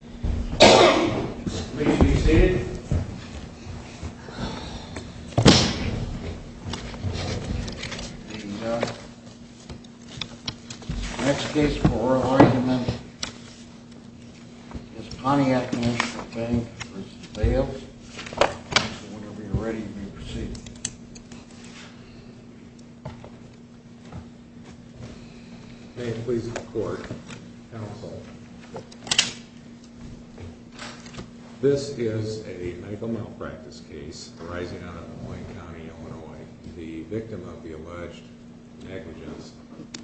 The next case for oral argument is Pontiac National Bank v. Vales. Whenever you're ready, you may proceed. May it please the court, counsel. This is a medical malpractice case arising out of Des Moines County, Illinois. The victim of the alleged negligence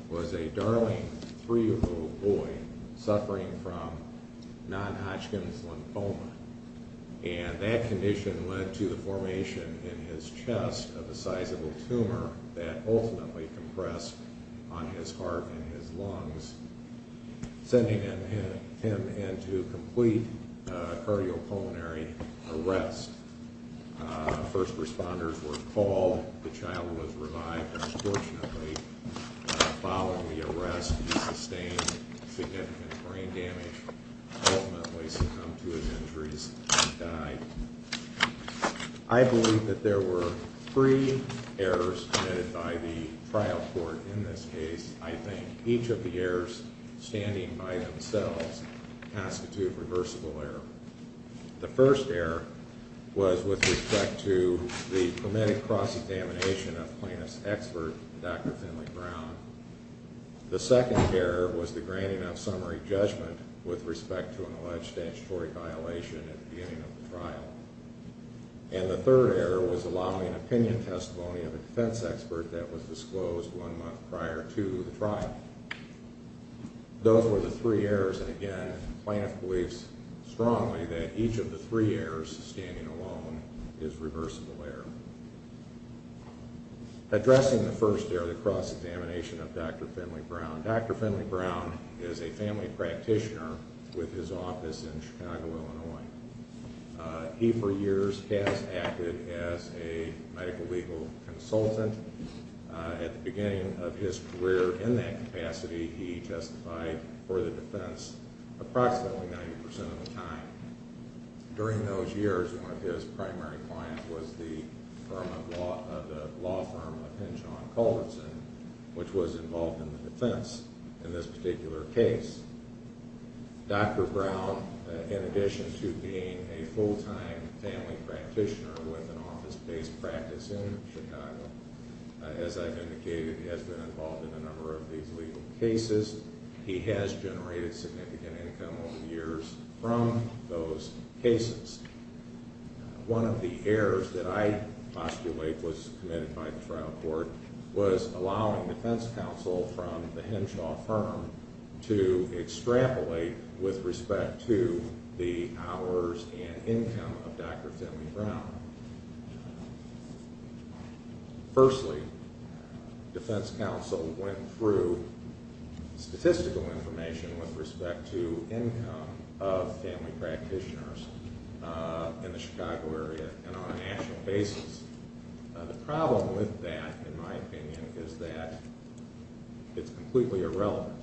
was a darling 3-year-old boy suffering from non-Hodgkin's lymphoma. And that condition led to the formation in his chest of a sizable tumor that ultimately compressed on his heart and his lungs, sending him into complete cardiopulmonary arrest. First responders were called. The child was revived, unfortunately. Following the arrest, he sustained significant brain damage, ultimately succumbed to his injuries, and died. I believe that there were three errors committed by the trial court in this case. I think each of the errors, standing by themselves, constitute reversible error. The first error was with respect to the permitted cross-examination of plaintiff's expert, Dr. Finley Brown. The second error was the granting of summary judgment with respect to an alleged statutory violation at the beginning of the trial. And the third error was allowing opinion testimony of a defense expert that was disclosed one month prior to the trial. Those were the three errors, and again, plaintiff believes strongly that each of the three errors, standing alone, is reversible error. Addressing the first error, the cross-examination of Dr. Finley Brown, Dr. Finley Brown is a family practitioner with his office in Chicago, Illinois. He, for years, has acted as a medical legal consultant. At the beginning of his career in that capacity, he testified for the defense approximately 90% of the time. During those years, one of his primary clients was the law firm of Hinchon Culverson, which was involved in the defense in this particular case. Dr. Brown, in addition to being a full-time family practitioner with an office-based practice in Chicago, as I've indicated, has been involved in a number of these legal cases. He has generated significant income over the years from those cases. One of the errors that I postulate was committed by the trial court was allowing defense counsel from the Hinchon firm to extrapolate with respect to the hours and income of Dr. Finley Brown. Firstly, defense counsel went through statistical information with respect to income of family practitioners in the Chicago area and on a national basis. The problem with that, in my opinion, is that it's completely irrelevant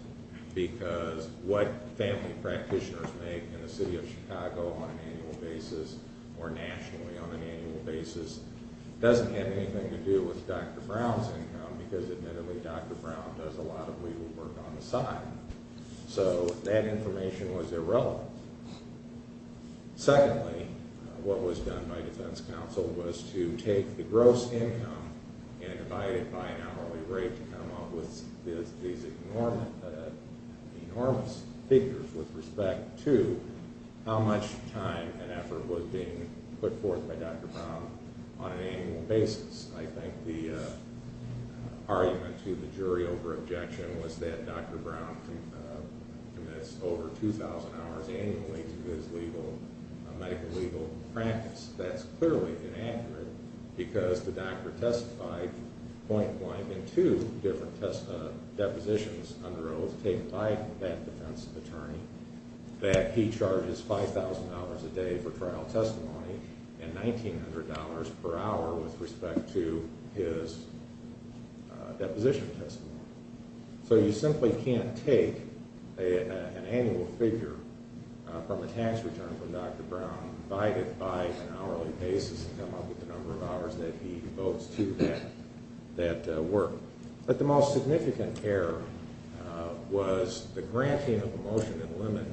because what family practitioners make in the city of Chicago on an annual basis or nationally on an annual basis doesn't have anything to do with Dr. Brown's income because, admittedly, Dr. Brown does a lot of legal work on the side. So that information was irrelevant. Secondly, what was done by defense counsel was to take the gross income and divide it by an hourly rate to come up with these enormous figures with respect to how much time and effort was being put forth by Dr. Brown on an annual basis. I think the argument to the jury over objection was that Dr. Brown commits over 2,000 hours annually to his medical legal practice. That's clearly inaccurate because the doctor testified point-blank in two different depositions under oath that he charges $5,000 a day for trial testimony and $1,900 per hour with respect to his deposition testimony. So you simply can't take an annual figure from a tax return from Dr. Brown and divide it by an hourly basis and come up with the number of hours that he devotes to that work. But the most significant error was the granting of a motion in limit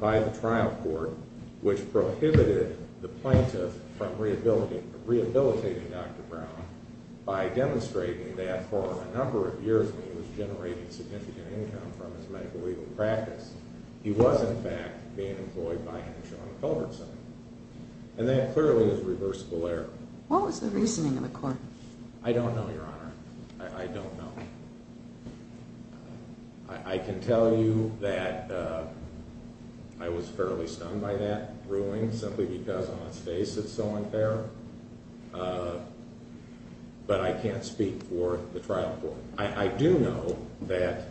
by the trial court which prohibited the plaintiff from rehabilitating Dr. Brown by demonstrating that for a number of years when he was generating significant income from his medical legal practice, he was, in fact, being employed by him and Shona Culbertson. And that clearly is a reversible error. What was the reasoning of the court? I don't know, Your Honor. I don't know. I can tell you that I was fairly stunned by that ruling simply because on its face it's so unfair. But I can't speak for the trial court. I do know that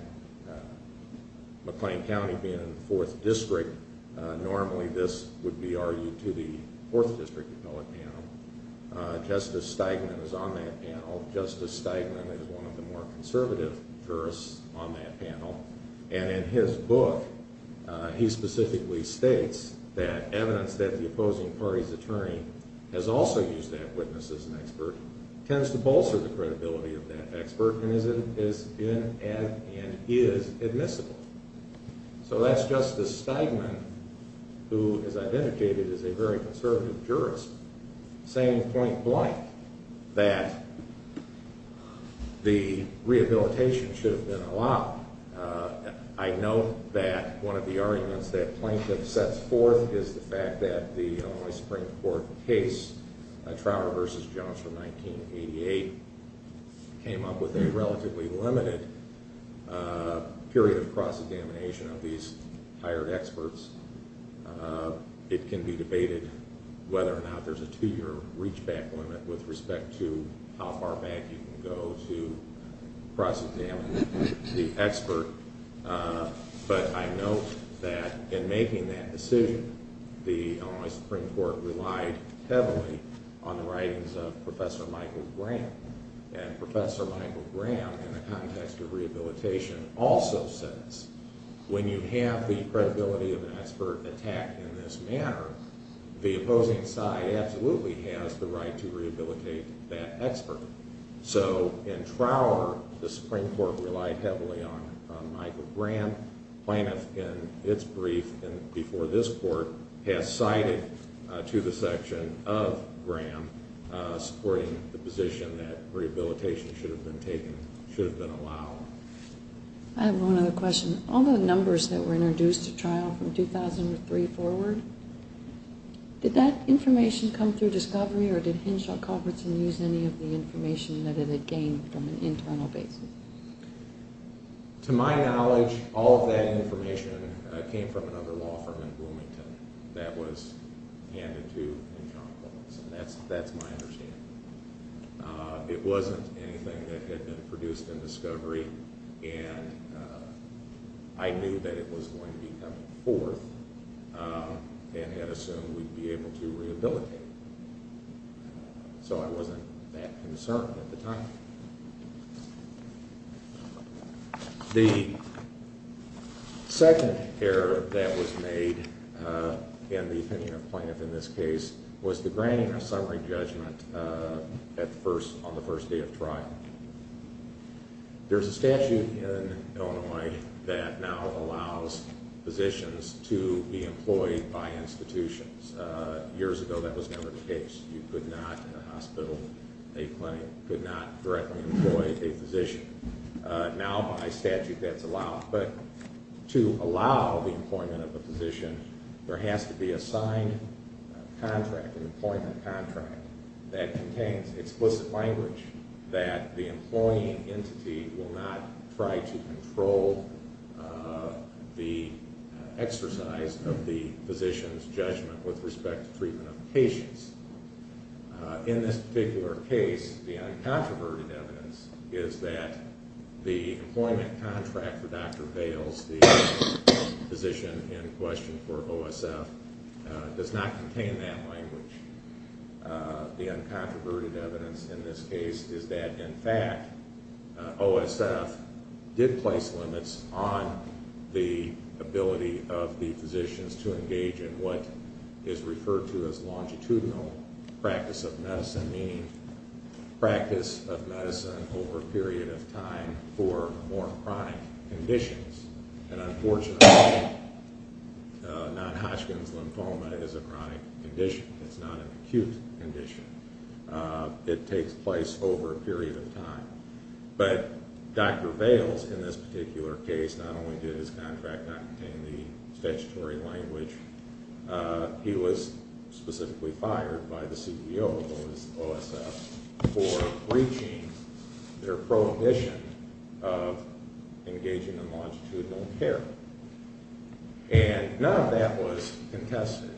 McLean County being in the 4th District, normally this would be argued to the 4th District appellate panel. Justice Steigman is on that panel. Justice Steigman is one of the more conservative jurists on that panel. And in his book, he specifically states that evidence that the opposing party's attorney has also used that witness as an expert tends to bolster the credibility of that expert and is admissible. So that's Justice Steigman, who is identified as a very conservative jurist, saying point blank that the rehabilitation should have been allowed. I know that one of the arguments that plaintiff sets forth is the fact that the Illinois Supreme Court case, Trower v. Jones from 1988, came up with a relatively limited period of cross-examination of these hired experts. It can be debated whether or not there's a two-year reachback limit with respect to how far back you can go to cross-examine the expert. But I note that in making that decision, the Illinois Supreme Court relied heavily on the writings of Professor Michael Graham. And Professor Michael Graham, in the context of rehabilitation, also says when you have the credibility of an expert attacked in this manner, the opposing side absolutely has the right to rehabilitate that expert. So in Trower, the Supreme Court relied heavily on Michael Graham. Plaintiff, in its brief before this Court, has cited to the section of Graham, supporting the position that rehabilitation should have been allowed. I have one other question. All the numbers that were introduced at trial from 2003 forward, did that information come through discovery or did Henshaw-Colbertson use any of the information that it had gained from an internal basis? To my knowledge, all of that information came from another law firm in Bloomington that was handed to Henshaw-Colbertson. That's my understanding. It wasn't anything that had been produced in discovery. And I knew that it was going to be coming forth and had assumed we'd be able to rehabilitate. So I wasn't that concerned at the time. The second error that was made in the opinion of plaintiff in this case was the granting of summary judgment on the first day of trial. There's a statute in Illinois that now allows physicians to be employed by institutions. Years ago, that was never the case. You could not, in a hospital, a clinic, could not directly employ a physician. Now, by statute, that's allowed. But to allow the employment of a physician, there has to be a signed contract, an employment contract, that contains explicit language that the employing entity will not try to control the exercise of the physician's judgment with respect to treatment of patients. In this particular case, the uncontroverted evidence is that the employment contract for Dr. Bales, the physician in question for OSF, does not contain that language. The uncontroverted evidence in this case is that, in fact, OSF did place limits on the ability of the physicians to engage in what is referred to as longitudinal practice of medicine, meaning practice of medicine over a period of time for more chronic conditions. And unfortunately, non-Hodgkin's lymphoma is a chronic condition. It's not an acute condition. It takes place over a period of time. But Dr. Bales, in this particular case, not only did his contract not contain the statutory language, he was specifically fired by the CEO of OSF for breaching their prohibition of engaging in longitudinal care. And none of that was contested.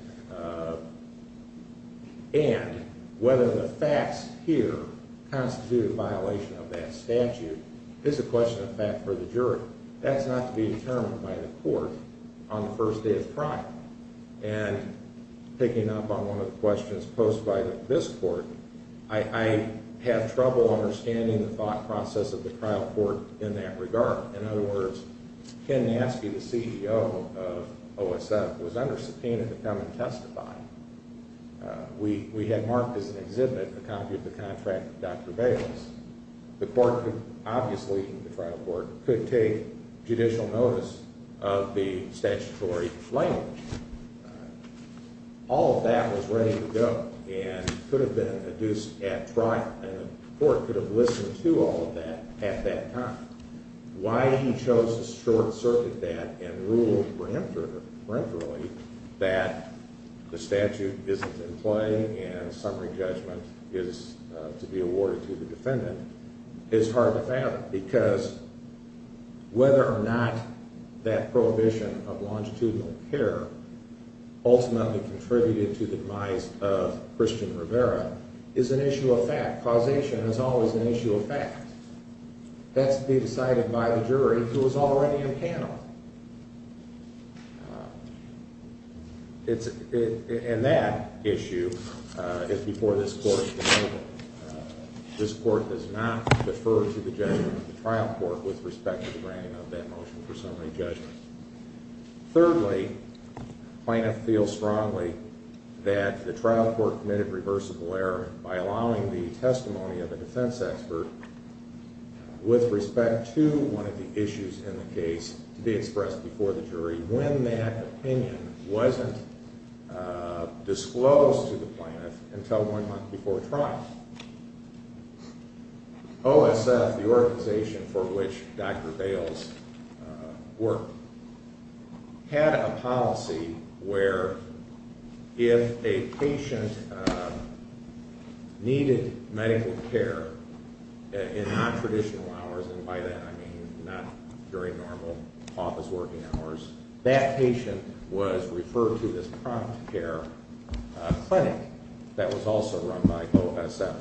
And whether the facts here constitute a violation of that statute is a question of fact for the jury. That's not to be determined by the court on the first day of trial. And picking up on one of the questions posed by this court, I have trouble understanding the thought process of the trial court in that regard. In other words, Ken Nasky, the CEO of OSF, was under subpoena to come and testify. We had marked as an exhibit a copy of the contract with Dr. Bales. The court could obviously, the trial court, could take judicial notice of the statutory language. All of that was ready to go and could have been adduced at trial, and the court could have listened to all of that at that time. Why he chose to short-circuit that and ruled peremptorily that the statute isn't in play and summary judgment is to be awarded to the defendant is hard to fathom, because whether or not that prohibition of longitudinal care ultimately contributed to the demise of Christian Rivera is an issue of fact. Causation is always an issue of fact. That's to be decided by the jury, who is already in panel. And that issue is before this court. This court does not defer to the judgment of the trial court with respect to the granting of that motion for summary judgment. Thirdly, plaintiff feels strongly that the trial court committed reversible error by allowing the testimony of a defense expert with respect to one of the issues in the case to be expressed before the jury when that opinion wasn't disclosed to the plaintiff until one month before trial. OSF, the organization for which Dr. Bales worked, had a policy where if a patient needed medical care in non-traditional hours, and by that I mean not very normal office working hours, that patient was referred to this prompt care clinic that was also run by OSF.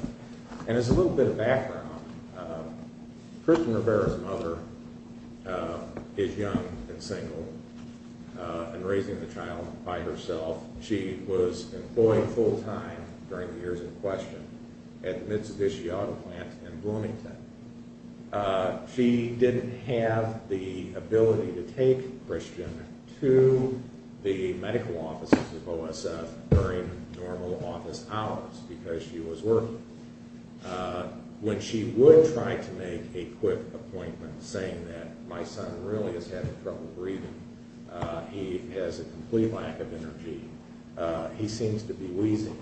Christian Rivera's mother is young and single and raising the child by herself. She was employed full-time during the years in question at Mitsubishi Auto Plant in Bloomington. She didn't have the ability to take Christian to the medical offices of OSF during normal office hours because she was working. When she would try to make a quick appointment, saying that my son really is having trouble breathing, he has a complete lack of energy, he seems to be wheezing,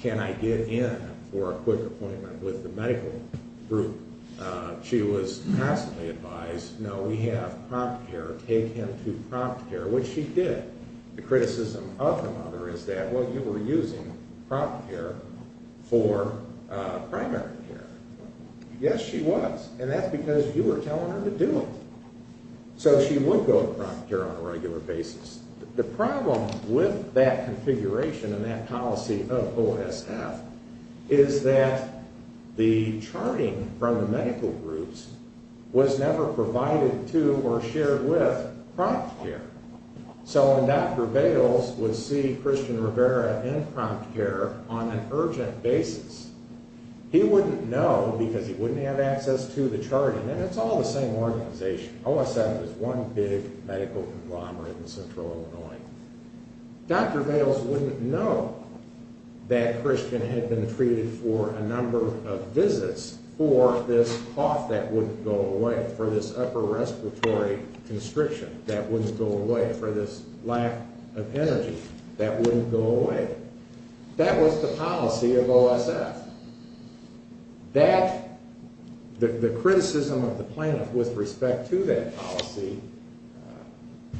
can I get in for a quick appointment with the medical group? She was passively advised, no, we have prompt care, take him to prompt care, which she did. The criticism of the mother is that, well, you were using prompt care for primary care. Yes, she was, and that's because you were telling her to do it. So she would go to prompt care on a regular basis. The problem with that configuration and that policy of OSF is that the charting from the medical groups was never provided to or shared with prompt care. So when Dr. Bales would see Christian Rivera in prompt care on an urgent basis, he wouldn't know because he wouldn't have access to the charting, and it's all the same organization. OSF is one big medical conglomerate in central Illinois. Dr. Bales wouldn't know that Christian had been treated for a number of visits for this cough that wouldn't go away, for this upper respiratory constriction that wouldn't go away, for this lack of energy that wouldn't go away. That was the policy of OSF. The criticism of the plaintiff with respect to that policy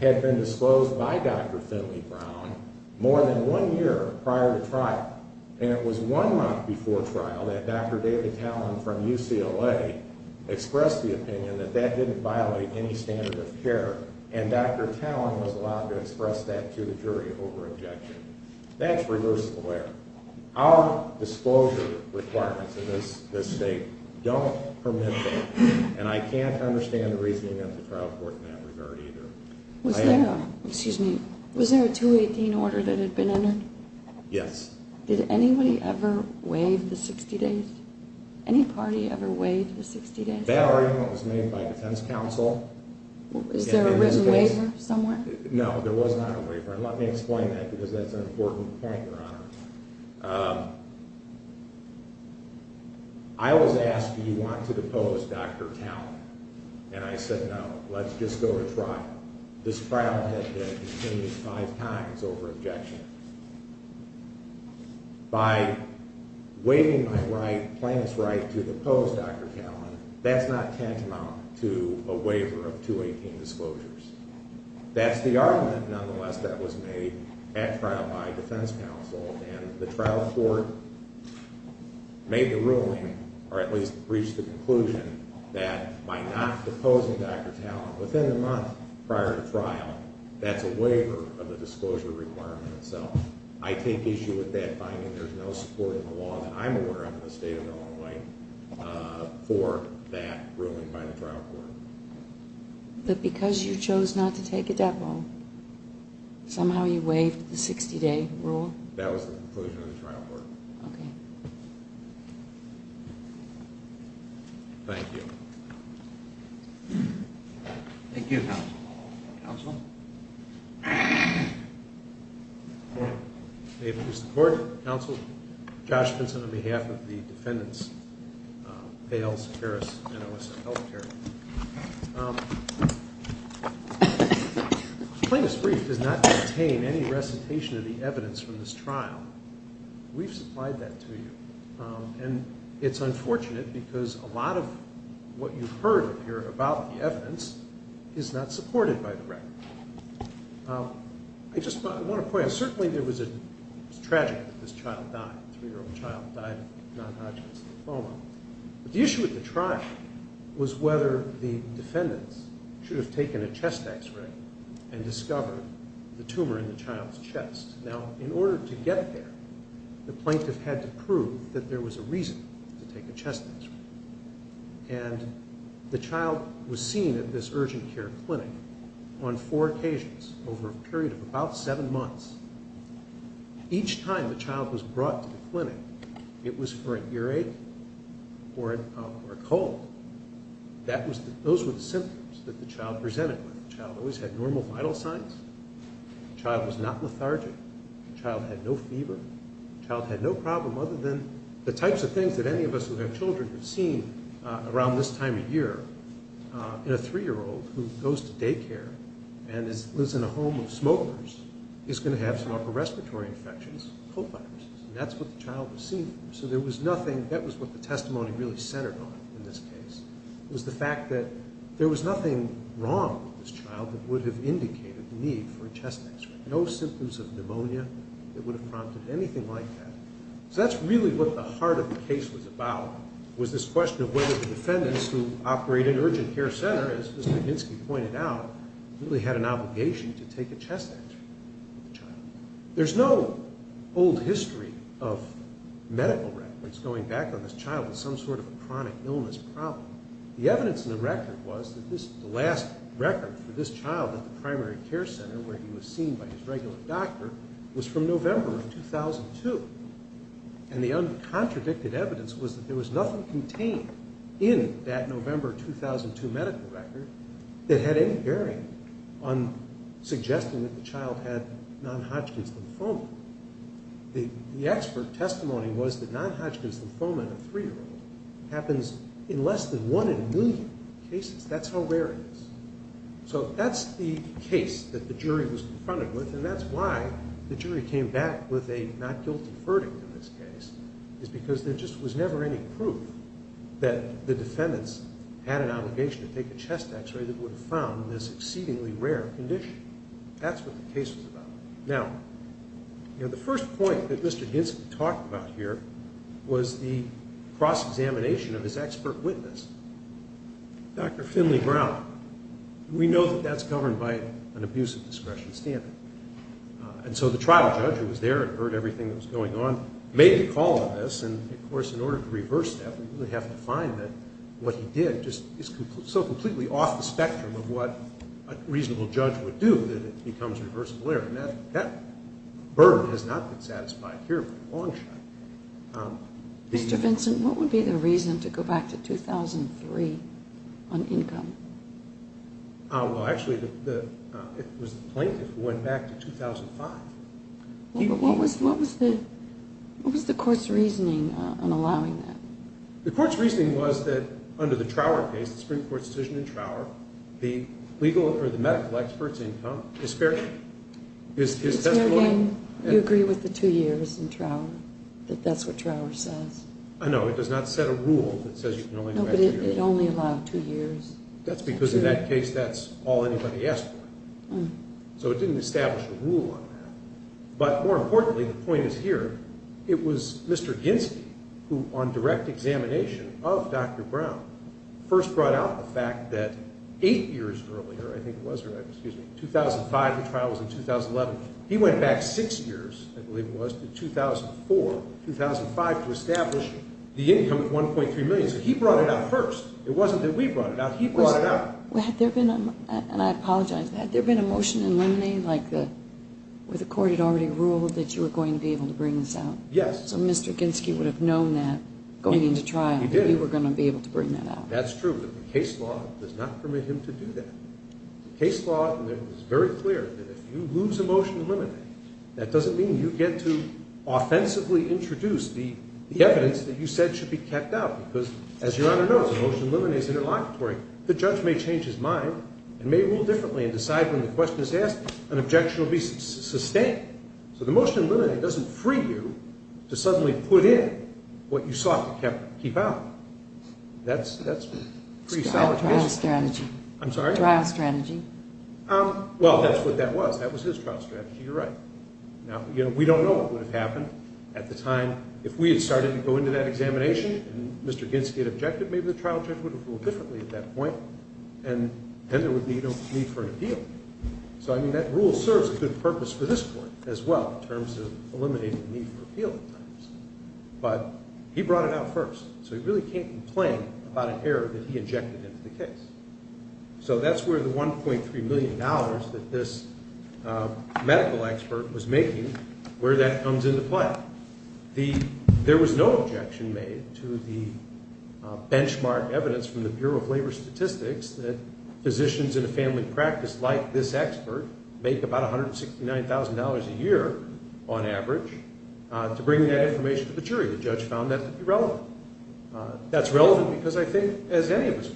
had been disclosed by Dr. Finley Brown more than one year prior to trial, and it was one month before trial that Dr. David Tallon from UCLA expressed the opinion that that didn't violate any standard of care, and Dr. Tallon was allowed to express that to the jury over objection. That's reversible error. Our disclosure requirements in this state don't permit that, and I can't understand the reasoning of the trial court in that regard either. Was there a 218 order that had been entered? Yes. Did anybody ever waive the 60 days? Any party ever waived the 60 days? That argument was made by defense counsel. Is there a written waiver somewhere? No, there was not a waiver, and let me explain that because that's an important point, Your Honor. I was asked, do you want to depose Dr. Tallon? And I said, no, let's just go to trial. This trial had to continue five times over objection. By waiving my right, plaintiff's right, to depose Dr. Tallon, that's not tantamount to a waiver of 218 disclosures. That's the argument, nonetheless, that was made at trial by defense counsel, and the trial court made the ruling, or at least reached the conclusion, that by not deposing Dr. Tallon within the month prior to trial, that's a waiver of the disclosure requirement itself. I take issue with that finding. There's no support in the law that I'm aware of in the state of Illinois for that ruling by the trial court. But because you chose not to take a depo, somehow you waived the 60-day rule? That was the conclusion of the trial court. Okay. Thank you. Thank you, counsel. Counsel? May it please the Court. Counsel, Josh Benson on behalf of the defendants, Pales, Harris, and Alyssa Helter. The plaintiff's brief does not contain any recitation of the evidence from this trial. We've supplied that to you. And it's unfortunate because a lot of what you've heard up here about the evidence is not supported by the record. I just want to point out, certainly it was tragic that this child died, a three-year-old child died of non-Hodgkin's lymphoma. The issue at the trial was whether the defendants should have taken a chest X-ray and discovered the tumor in the child's chest. Now, in order to get there, the plaintiff had to prove that there was a reason to take a chest X-ray. And the child was seen at this urgent care clinic on four occasions over a period of about seven months. Each time the child was brought to the clinic, it was for a earache or a cold. Those were the symptoms that the child presented with. The child always had normal vital signs. The child was not lethargic. The child had no fever. The child had no problem other than the types of things that any of us who have children have seen around this time of year. And a three-year-old who goes to daycare and lives in a home of smokers is going to have some upper respiratory infections, cold viruses. And that's what the child was seen for. So there was nothing, that was what the testimony really centered on in this case, was the fact that there was nothing wrong with this child that would have indicated the need for a chest X-ray. No symptoms of pneumonia that would have prompted anything like that. So that's really what the heart of the case was about, was this question of whether the defendants who operated an urgent care center, as Mr. Ginsky pointed out, really had an obligation to take a chest X-ray of the child. There's no old history of medical records going back on this child with some sort of a chronic illness problem. The evidence in the record was that the last record for this child at the primary care center where he was seen by his regular doctor was from November of 2002. And the uncontradicted evidence was that there was nothing contained in that November 2002 medical record that had any bearing on suggesting that the child had non-Hodgkin's lymphoma. The expert testimony was that non-Hodgkin's lymphoma in a three-year-old happens in less than one in a million cases. That's how rare it is. So that's the case that the jury was confronted with, and that's why the jury came back with a not guilty verdict in this case, is because there just was never any proof that the defendants had an obligation to take a chest X-ray that would have found this exceedingly rare condition. That's what the case was about. Now, the first point that Mr. Ginsky talked about here was the cross-examination of his expert witness, Dr. Finley Brown. We know that that's governed by an abusive discretion standard. And so the trial judge, who was there and heard everything that was going on, made the call on this. And, of course, in order to reverse that, we have to find that what he did is so completely off the spectrum of what a reasonable judge would do that it becomes reversible error. And that burden has not been satisfied here for the long shot. Mr. Vincent, what would be the reason to go back to 2003 on income? Well, actually, it was the plaintiff who went back to 2005. What was the court's reasoning on allowing that? The court's reasoning was that under the Trower case, the Supreme Court's decision in Trower, the legal or the medical expert's income is fair game. It's fair game. You agree with the two years in Trower, that that's what Trower says? No, it does not set a rule that says you can only go back two years. No, but it only allowed two years. That's because in that case, that's all anybody asked for. So it didn't establish a rule on that. But more importantly, the point is here, it was Mr. Ginsky who, on direct examination of Dr. Brown, first brought out the fact that eight years earlier, I think it was, 2005, the trial was in 2011, he went back six years, I believe it was, to 2004, 2005, to establish the income of $1.3 million. So he brought it out first. It wasn't that we brought it out. He brought it out. And I apologize. Had there been a motion in Lemney where the court had already ruled that you were going to be able to bring this out? Yes. So Mr. Ginsky would have known that going into trial that you were going to be able to bring that out. That's true, but the case law does not permit him to do that. The case law is very clear that if you lose a motion in Lemney, that doesn't mean you get to offensively introduce the evidence that you said should be kept out because, as Your Honor knows, a motion in Lemney is interlocutory. The judge may change his mind and may rule differently and decide when the question is asked, an objection will be sustained. So the motion in Lemney doesn't free you to suddenly put in what you sought to keep out. That's a pretty solid case. Trial strategy. I'm sorry? Trial strategy. Well, that's what that was. That was his trial strategy. You're right. Now, we don't know what would have happened at the time. If we had started to go into that examination and Mr. Ginsky had objected, maybe the trial judge would have ruled differently at that point, and then there would be no need for an appeal. So, I mean, that rule serves a good purpose for this court as well in terms of eliminating the need for appeal at times. But he brought it out first, so he really can't complain about an error that he injected into the case. So that's where the $1.3 million that this medical expert was making, where that comes into play. There was no objection made to the benchmark evidence from the Bureau of Labor Statistics that physicians in a family practice like this expert make about $169,000 a year on average. To bring that information to the jury. The judge found that to be relevant. That's relevant because I think, as any of us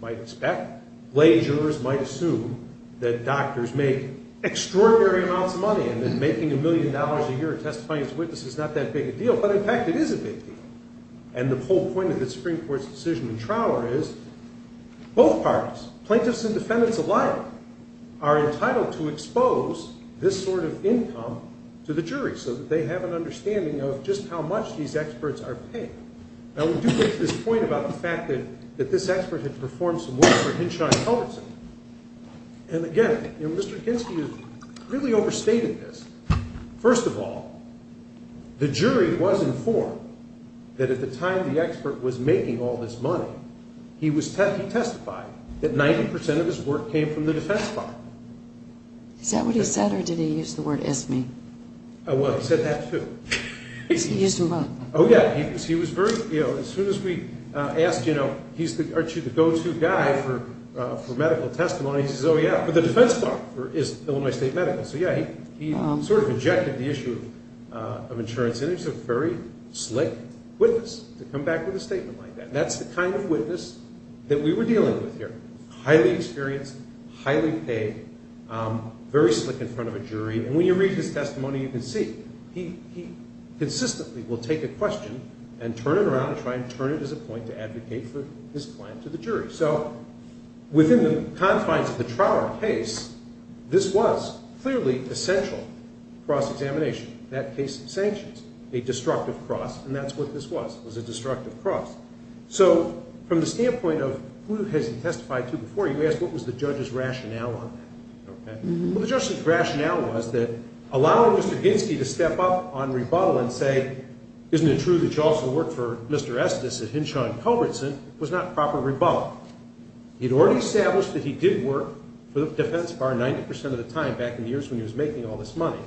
might expect, lay jurors might assume that doctors make extraordinary amounts of money and that making a million dollars a year testifying as a witness is not that big a deal. But, in fact, it is a big deal. And the whole point of this Supreme Court's decision in Trauer is both parties, plaintiffs and defendants alike, are entitled to expose this sort of income to the jury so that they have an understanding of just how much these experts are paying. Now, we do get to this point about the fact that this expert had performed some work for Henshaw and Culbertson. And, again, Mr. Ginsky has really overstated this. First of all, the jury was informed that at the time the expert was making all this money, he testified that 90 percent of his work came from the Defense Department. Is that what he said, or did he use the word is-me? Well, he said that, too. He used what? Oh, yeah. He was very, you know, as soon as we asked, you know, he's the go-to guy for medical testimony, he says, oh, yeah, but the Defense Department is Illinois State Medical. So, yeah, he sort of rejected the issue of insurance. And he's a very slick witness to come back with a statement like that. That's the kind of witness that we were dealing with here. Highly experienced, highly paid, very slick in front of a jury. And when you read his testimony, you can see he consistently will take a question and turn it around and try and turn it as a point to advocate for his claim to the jury. So within the confines of the Trower case, this was clearly essential cross-examination. That case sanctions a destructive cross, and that's what this was. It was a destructive cross. So from the standpoint of who has he testified to before, you ask what was the judge's rationale on that. Well, the judge's rationale was that allowing Mr. Ginsky to step up on rebuttal and say, isn't it true that you also worked for Mr. Estes at Hinshaw & Culbertson, was not proper rebuttal. He had already established that he did work for the defense bar 90 percent of the time back in the years when he was making all this money.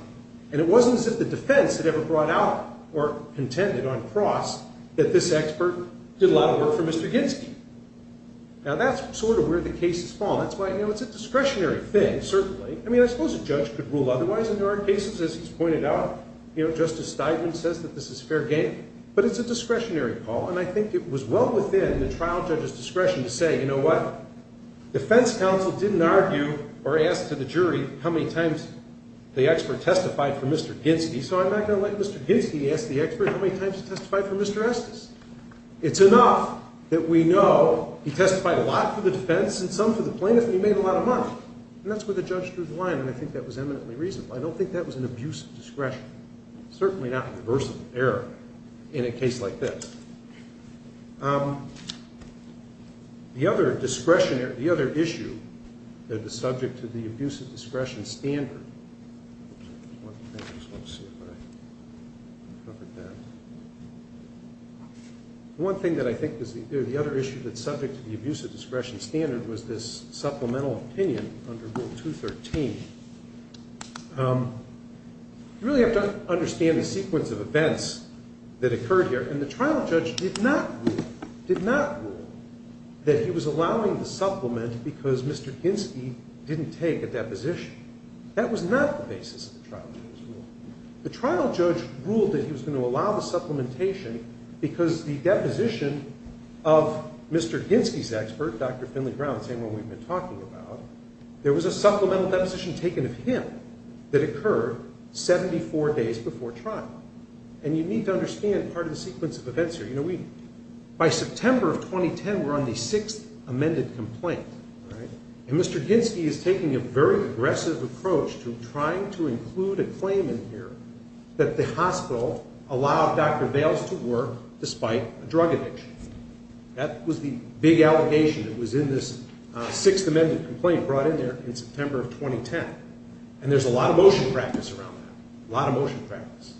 And it wasn't as if the defense had ever brought out or contended on cross that this expert did a lot of work for Mr. Ginsky. Now, that's sort of where the cases fall. It's a discretionary thing, certainly. I mean, I suppose a judge could rule otherwise in their own cases, as he's pointed out. Justice Steinman says that this is fair game, but it's a discretionary call, and I think it was well within the trial judge's discretion to say, you know what, defense counsel didn't argue or ask to the jury how many times the expert testified for Mr. Ginsky, so I'm not going to let Mr. Ginsky ask the expert how many times he testified for Mr. Estes. It's enough that we know he testified a lot for the defense and some for the plaintiff, and he made a lot of money. And that's where the judge drew the line, and I think that was eminently reasonable. I don't think that was an abuse of discretion, certainly not a reversible error in a case like this. The other issue that is subject to the abuse of discretion standard was this supplemental opinion under Rule 213. You really have to understand the sequence of events that occurred here, and the trial judge did not rule that he was allowing the supplement because Mr. Ginsky didn't take a deposition. That was not the basis of the trial judge's rule. The trial judge ruled that he was going to allow the supplementation because the deposition of Mr. Ginsky's expert, Dr. Finley Brown, the same one we've been talking about, there was a supplemental deposition taken of him that occurred 74 days before trial. And you need to understand part of the sequence of events here. By September of 2010, we're on the sixth amended complaint, and Mr. Ginsky is taking a very aggressive approach to trying to include a claim in here that the hospital allowed Dr. Bales to work despite a drug addiction. That was the big allegation that was in this sixth amended complaint brought in there in September of 2010, and there's a lot of motion practice around that, a lot of motion practice.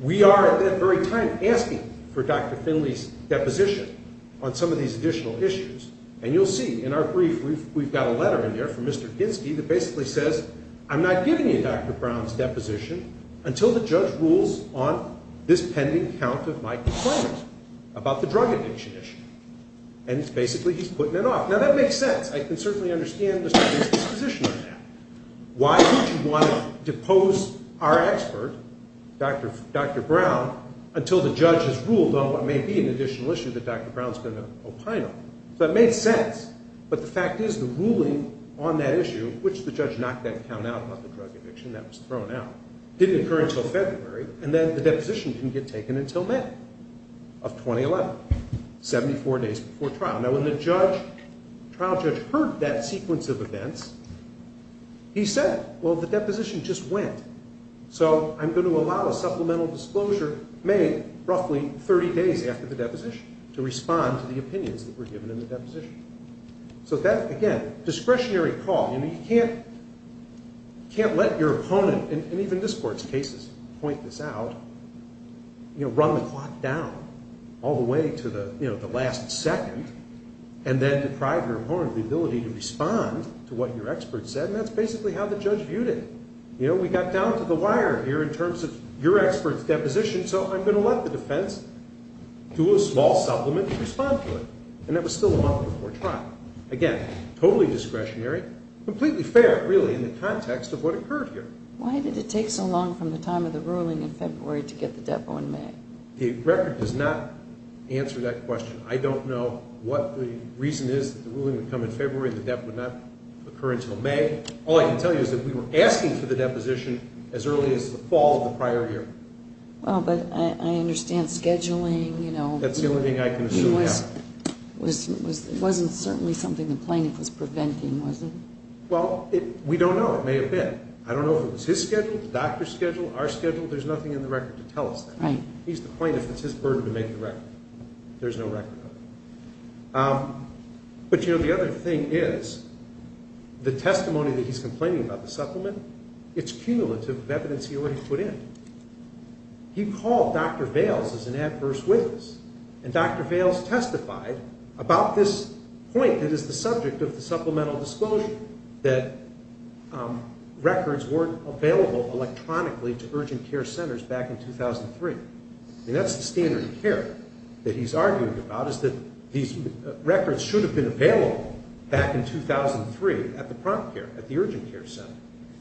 We are at that very time asking for Dr. Finley's deposition on some of these additional issues, and you'll see in our brief we've got a letter in there from Mr. Ginsky that basically says, I'm not giving you Dr. Brown's deposition until the judge rules on this pending count of my complaint about the drug addiction issue, and basically he's putting it off. Now, that makes sense. I can certainly understand Mr. Ginsky's position on that. Why would you want to depose our expert, Dr. Brown, until the judge has ruled on what may be an additional issue that Dr. Brown's going to opine on? So that made sense, but the fact is the ruling on that issue, which the judge knocked that count out about the drug addiction that was thrown out, didn't occur until February, and then the deposition didn't get taken until May of 2011, 74 days before trial. Now, when the trial judge heard that sequence of events, he said, well, the deposition just went, so I'm going to allow a supplemental disclosure made roughly 30 days after the deposition to respond to the opinions that were given in the deposition. So that, again, discretionary call. You can't let your opponent, and even this Court's cases point this out, run the clock down all the way to the last second and then deprive your opponent of the ability to respond to what your expert said, and that's basically how the judge viewed it. You know, we got down to the wire here in terms of your expert's deposition, so I'm going to let the defense do a small supplement to respond to it, and that was still a month before trial. Again, totally discretionary, completely fair, really, in the context of what occurred here. Why did it take so long from the time of the ruling in February to get the depo in May? The record does not answer that question. I don't know what the reason is that the ruling would come in February and the depo would not occur until May. All I can tell you is that we were asking for the deposition as early as the fall of the prior year. Well, but I understand scheduling, you know. That's the only thing I can assume happened. It wasn't certainly something the plaintiff was preventing, was it? Well, we don't know. It may have been. I don't know if it was his schedule, the doctor's schedule, our schedule. There's nothing in the record to tell us that. He's the plaintiff. It's his burden to make the record. There's no record of it. But, you know, the other thing is the testimony that he's complaining about, the supplement, it's cumulative evidence he already put in. He called Dr. Bales as an adverse witness, and Dr. Bales testified about this point that is the subject of the supplemental disclosure, that records weren't available electronically to urgent care centers back in 2003. I mean, that's the standard of care that he's arguing about, is that these records should have been available back in 2003 at the prompt care, at the urgent care center.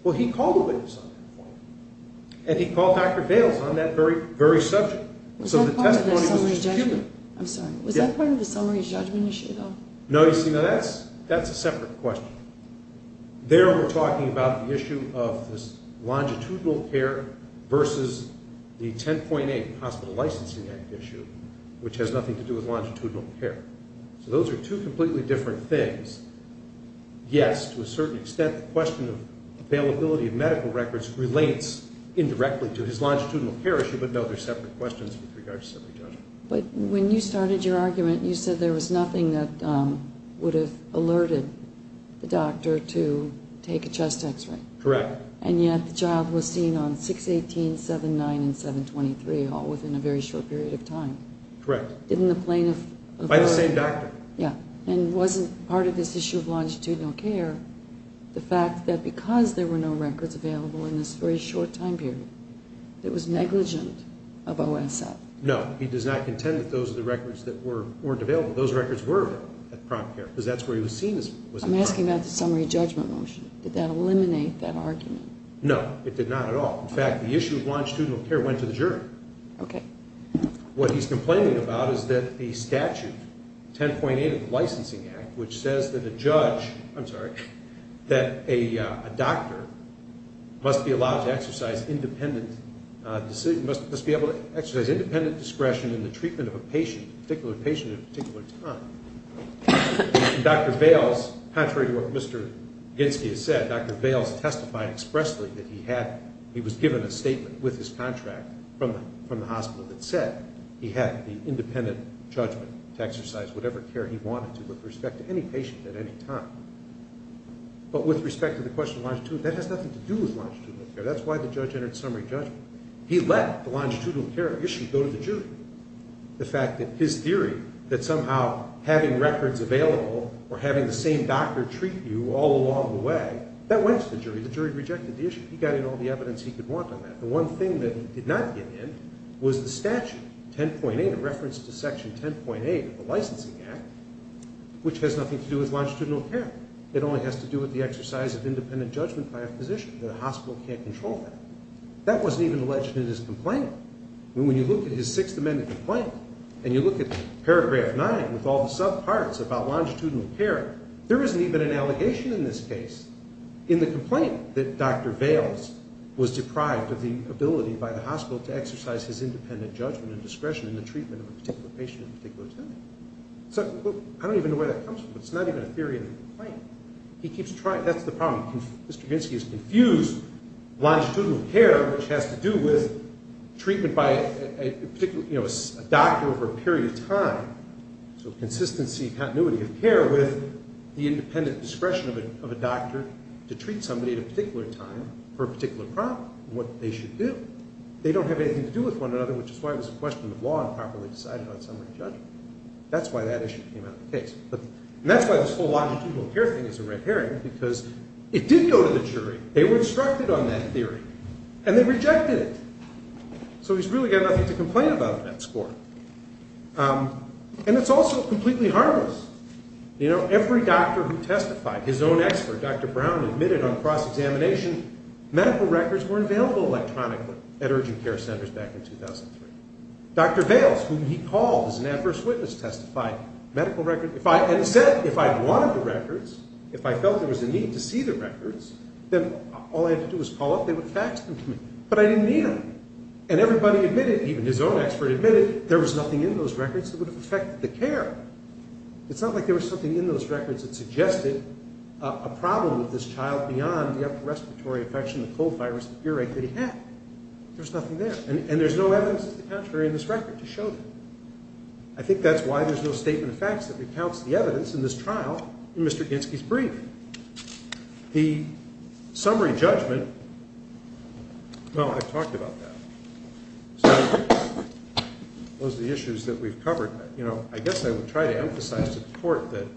Well, he called a witness on that point, and he called Dr. Bales on that very subject. Was that part of the summary judgment? I'm sorry. Was that part of the summary judgment issue, though? No, you see, now that's a separate question. There we're talking about the issue of this longitudinal care versus the 10.8 Hospital Licensing Act issue, which has nothing to do with longitudinal care. So those are two completely different things. Yes, to a certain extent, the question of availability of medical records relates indirectly to his longitudinal care issue, but, no, they're separate questions with regards to summary judgment. But when you started your argument, you said there was nothing that would have alerted the doctor to take a chest X-ray. Correct. And yet the child was seen on 618, 7-9, and 7-23 all within a very short period of time. Correct. In the plane of... By the same doctor. Yeah. And wasn't part of this issue of longitudinal care the fact that because there were no records available in this very short time period, it was negligent of OSF? No. He does not contend that those are the records that weren't available. Those records were available at Prom Care because that's where he was seen. I'm asking about the summary judgment motion. Did that eliminate that argument? No, it did not at all. In fact, the issue of longitudinal care went to the jury. Okay. What he's complaining about is that a statute, 10.8 of the Licensing Act, which says that a judge... I'm sorry... that a doctor must be allowed to exercise independent... must be able to exercise independent discretion in the treatment of a patient, a particular patient at a particular time. And Dr. Bales, contrary to what Mr. Ginsky has said, Dr. Bales testified expressly that he was given a statement with his contract from the hospital that said he had the independent judgment to exercise whatever care he wanted to with respect to any patient at any time. But with respect to the question of longitudinal care, that has nothing to do with longitudinal care. That's why the judge entered summary judgment. He let the longitudinal care issue go to the jury. The fact that his theory that somehow having records available or having the same doctor treat you all along the way, that went to the jury. The jury rejected the issue. He got in all the evidence he could want on that. The one thing that he did not get in was the statute, 10.8, a reference to Section 10.8 of the Licensing Act, which has nothing to do with longitudinal care. It only has to do with the exercise of independent judgment by a physician. The hospital can't control that. That wasn't even alleged in his complaint. When you look at his Sixth Amendment complaint and you look at paragraph 9 with all the subparts about longitudinal care, there isn't even an allegation in this case in the complaint that Dr. Bales was deprived of the ability by the hospital to exercise his independent judgment and discretion in the treatment of a particular patient at a particular time. I don't even know where that comes from. It's not even a theory in the complaint. That's the problem. Mr. Binsky has confused longitudinal care, which has to do with treatment by a doctor over a period of time, so consistency and continuity of care, with the independent discretion of a doctor to treat somebody at a particular time for a particular problem and what they should do. They don't have anything to do with one another, which is why it was a question of law and properly decided on somebody's judgment. That's why that issue came out of the case. And that's why this whole longitudinal care thing is a red herring, because it did go to the jury. They were instructed on that theory, and they rejected it. So he's really got nothing to complain about in that score. And it's also completely harmless. Every doctor who testified, his own expert, Dr. Brown, admitted on cross-examination medical records were available electronically at urgent care centers back in 2003. Dr. Vails, whom he called as an adverse witness, testified medical records. And he said if I wanted the records, if I felt there was a need to see the records, then all I had to do was call up, they would fax them to me. But I didn't need them. And everybody admitted, even his own expert admitted, there was nothing in those records that would have affected the care. It's not like there was something in those records that suggested a problem with this child beyond the respiratory infection, the cold virus, the earache that he had. There was nothing there. And there's no evidence of the contrary in this record to show that. I think that's why there's no statement of facts that recounts the evidence in this trial in Mr. Ginsky's brief. The summary judgment, well, I've talked about that. So those are the issues that we've covered. I guess I would try to emphasize to the court that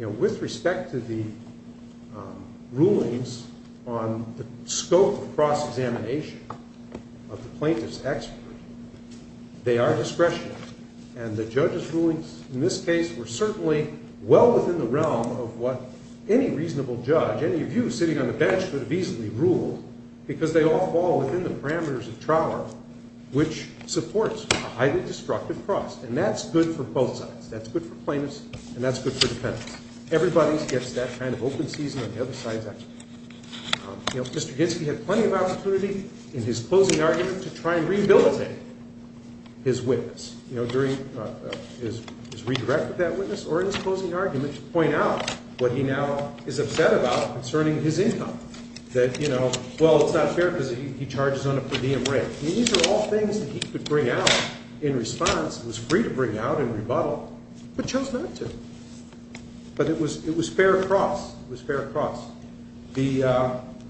with respect to the rulings on the scope of cross-examination of the plaintiff's expert, they are discretionary. And the judge's rulings in this case were certainly well within the realm of what any reasonable judge, any of you sitting on the bench, could have easily ruled because they all fall within the parameters of trial law, which supports a highly destructive cross. And that's good for both sides. That's good for plaintiffs, and that's good for defendants. Everybody gets that kind of open season on the other side. Mr. Ginsky had plenty of opportunity in his closing argument to try and rehabilitate his witness during his redirect of that witness or in his closing argument to point out what he now is upset about concerning his income. That, you know, well, it's not fair because he charges on a per diem rate. These are all things that he could bring out in response and was free to bring out and rebuttal, but chose not to. But it was fair cross. It was fair cross. The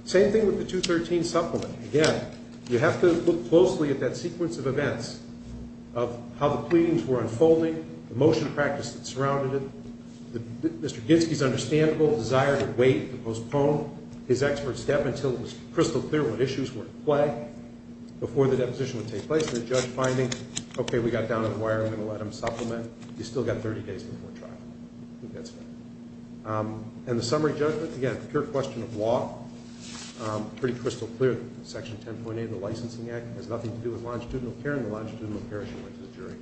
same thing with the 213 supplement. Again, you have to look closely at that sequence of events of how the pleadings were unfolding, the motion practice that surrounded it, Mr. Ginsky's understandable desire to wait, to postpone his expert step until it was crystal clear what issues were at play before the deposition would take place and the judge finding, okay, we got down to the wire. We're going to let him supplement. He's still got 30 days before trial. I think that's fair. And the summary judgment, again, a pure question of law, pretty crystal clear. Section 10.8 of the Licensing Act has nothing to do with longitudinal care, and the longitudinal care issue went to the jury,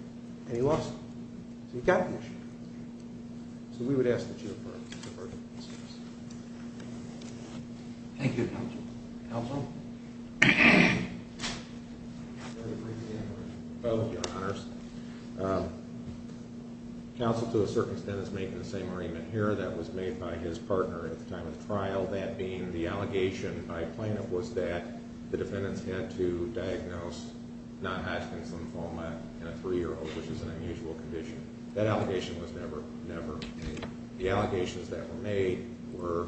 and he lost it. So he got the issue. So we would ask that you defer to the defense. Thank you, Counsel. Counsel? Very briefly, Your Honor. Both, Your Honors. Counsel, to a certain extent, is making the same arraignment here that was made by his partner at the time of the trial, that being the allegation by Plano was that the defendants had to diagnose non-Hodgkin's lymphoma in a 3-year-old, which is an unusual condition. That allegation was never made. The allegations that were made were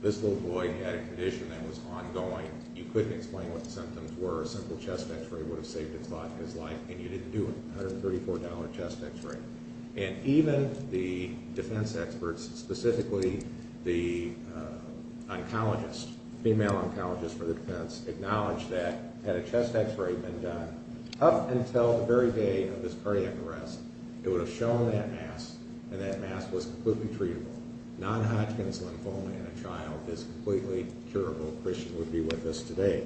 this little boy had a condition that was ongoing. You couldn't explain what the symptoms were. A simple chest X-ray would have saved his life, and you didn't do it. $134 chest X-ray. And even the defense experts, specifically the oncologist, female oncologist for the defense, acknowledged that had a chest X-ray been done up until the very day of this cardiac arrest, it would have shown that mass, and that mass was completely treatable. Non-Hodgkin's lymphoma in a child is completely curable. Christian would be with us today.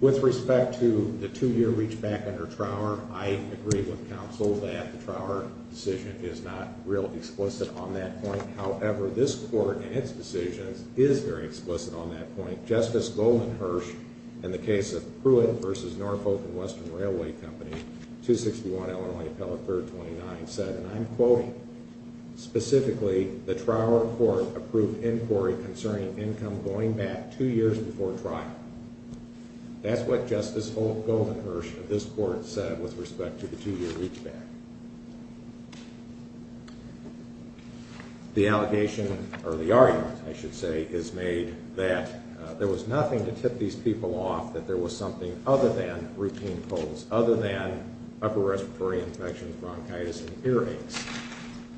With respect to the 2-year reach back under Trower, I agree with counsel that the Trower decision is not real explicit on that point. However, this Court and its decisions is very explicit on that point. Justice Goldman Hirsch, in the case of Pruitt v. Norfolk & Western Railway Company, 261 Illinois Appellate 3rd 29, said, and I'm quoting, specifically, the Trower Court approved inquiry concerning income going back two years before trial. That's what Justice Goldman Hirsch of this Court said with respect to the 2-year reach back. The argument, I should say, is made that there was nothing to tip these people other than upper respiratory infections, bronchitis, and earaches.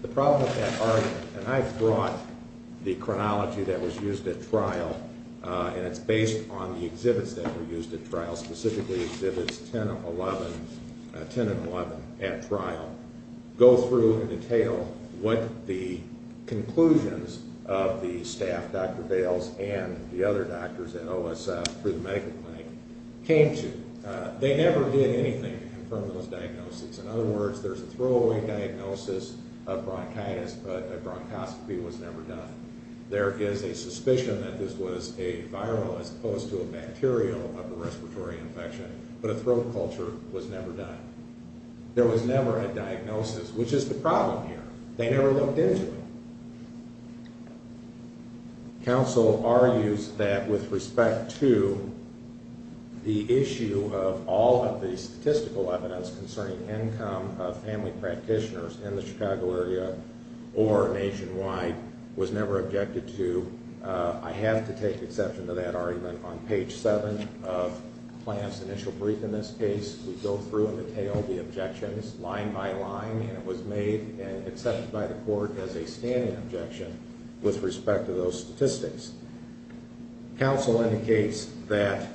The problem with that argument, and I brought the chronology that was used at trial, and it's based on the exhibits that were used at trial, specifically exhibits 10 and 11 at trial, go through and detail what the conclusions of the staff, Dr. Bales and the other doctors at OSF through the medical clinic, came to. They never did anything to confirm those diagnoses. In other words, there's a throwaway diagnosis of bronchitis, but a bronchoscopy was never done. There is a suspicion that this was a viral as opposed to a bacterial upper respiratory infection, but a throat culture was never done. There was never a diagnosis, which is the problem here. They never looked into it. Counsel argues that with respect to the issue of all of the statistical evidence concerning income of family practitioners in the Chicago area or nationwide was never objected to. I have to take exception to that argument. On page 7 of Plante's initial brief in this case, we go through and detail the objections line by line, and it was made and accepted by the Court as a standing objection with respect to those statistics. Counsel indicates that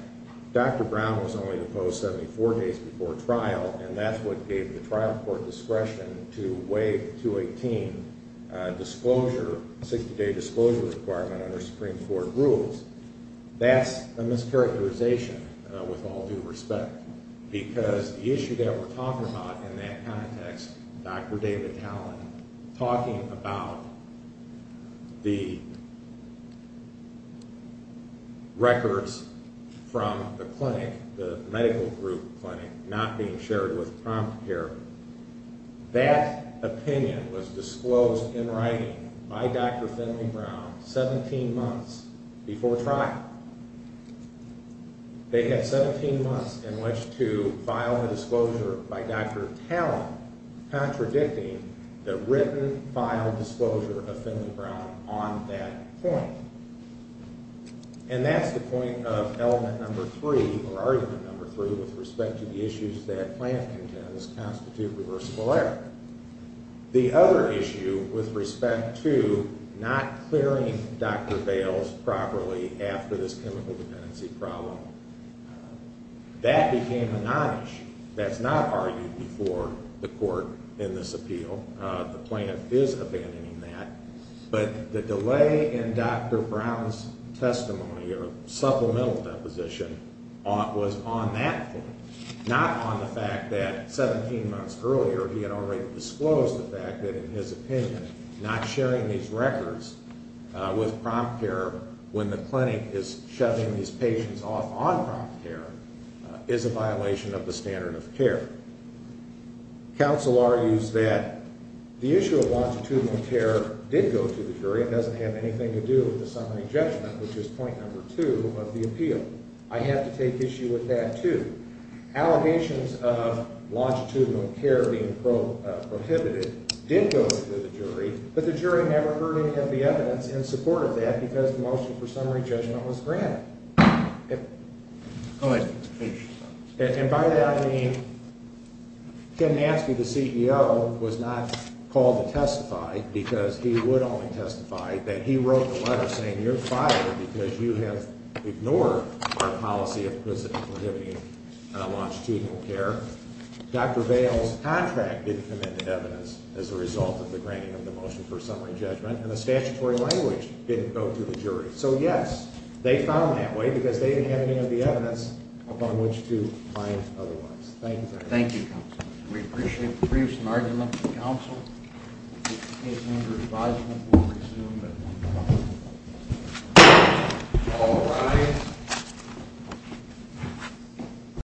Dr. Brown was only deposed 74 days before trial, and that's what gave the trial court discretion to waive 218 disclosure, 60-day disclosure requirement under Supreme Court rules. That's a mischaracterization with all due respect because the issue that we're talking about, the records from the clinic, the medical group clinic not being shared with prompt care, that opinion was disclosed in writing by Dr. Finley Brown 17 months before trial. They had 17 months in which to file the disclosure by Dr. Talen, contradicting the written file disclosure of Finley Brown on that point. And that's the point of element number three, or argument number three, with respect to the issues that Plante contends constitute reversible error. The other issue with respect to not clearing Dr. Bales properly after this chemical dependency problem, that became a non-issue. That's not argued before the Court in this appeal. The Plante is abandoning that. But the delay in Dr. Brown's testimony or supplemental deposition was on that point, not on the fact that 17 months earlier he had already disclosed the fact that, in his opinion, not sharing these records with prompt care when the Counsel argues that the issue of longitudinal care did go to the jury. It doesn't have anything to do with the summary judgment, which is point number two of the appeal. I have to take issue with that, too. Allegations of longitudinal care being prohibited did go to the jury, but the jury never heard any of the evidence in support of that because the motion for summary judgment was granted. Go ahead. And by that I mean Ken Nansky, the CEO, was not called to testify because he would only testify that he wrote the letter saying you're fired because you have ignored our policy of prohibiting longitudinal care. Dr. Bales' contract didn't come into evidence as a result of the granting of the motion for summary judgment, and the statutory language didn't go to the jury. So, yes, they found that way because they didn't have any of the evidence upon which to find otherwise. Thank you very much. Thank you, Counsel. We appreciate the briefs and arguments of the Counsel. In the case of under advisement, we'll resume at 1 o'clock. All rise.